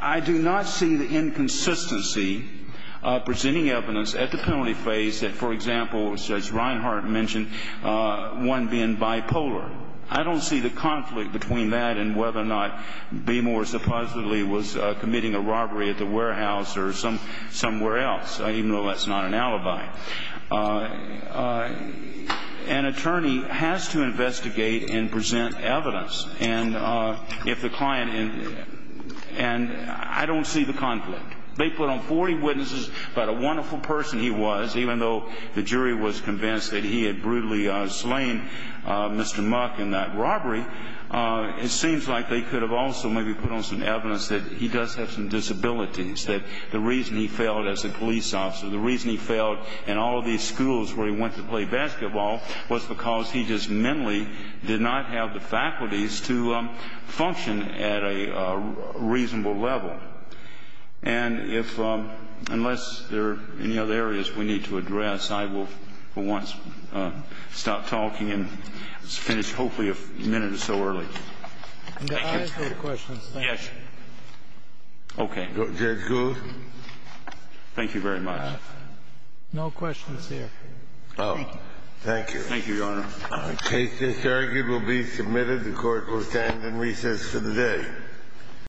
I do not see the inconsistency presenting evidence at the penalty phase that for example as Judge Reinhart mentioned one being bipolar. I don't see the conflict between that and whether or not Behmor supposedly was committing a robbery at the warehouse or somewhere else even though that's not an alibi. An attorney has to investigate and present evidence and if the client and I don't see the conflict. They put on 40 witnesses even though the jury was convinced that he had brutally slain Mr. Muck in that robbery it seems like they could have also maybe put on some evidence that he does have some disabilities that the reason he failed as a police officer the reason he failed in all of these schools where he went to play basketball was because he just mentally did not have the faculties to function at a reasonable level. And if unless there are any other areas we need to address I will for once stop talking and finish hopefully a minute or so early. Can I ask you a question? Yes. Okay. Judge Gould? Thank you very much. No questions here. Oh. Thank you. Thank you, Your Honor. The case disargued will be submitted the court will stand in recess for the day.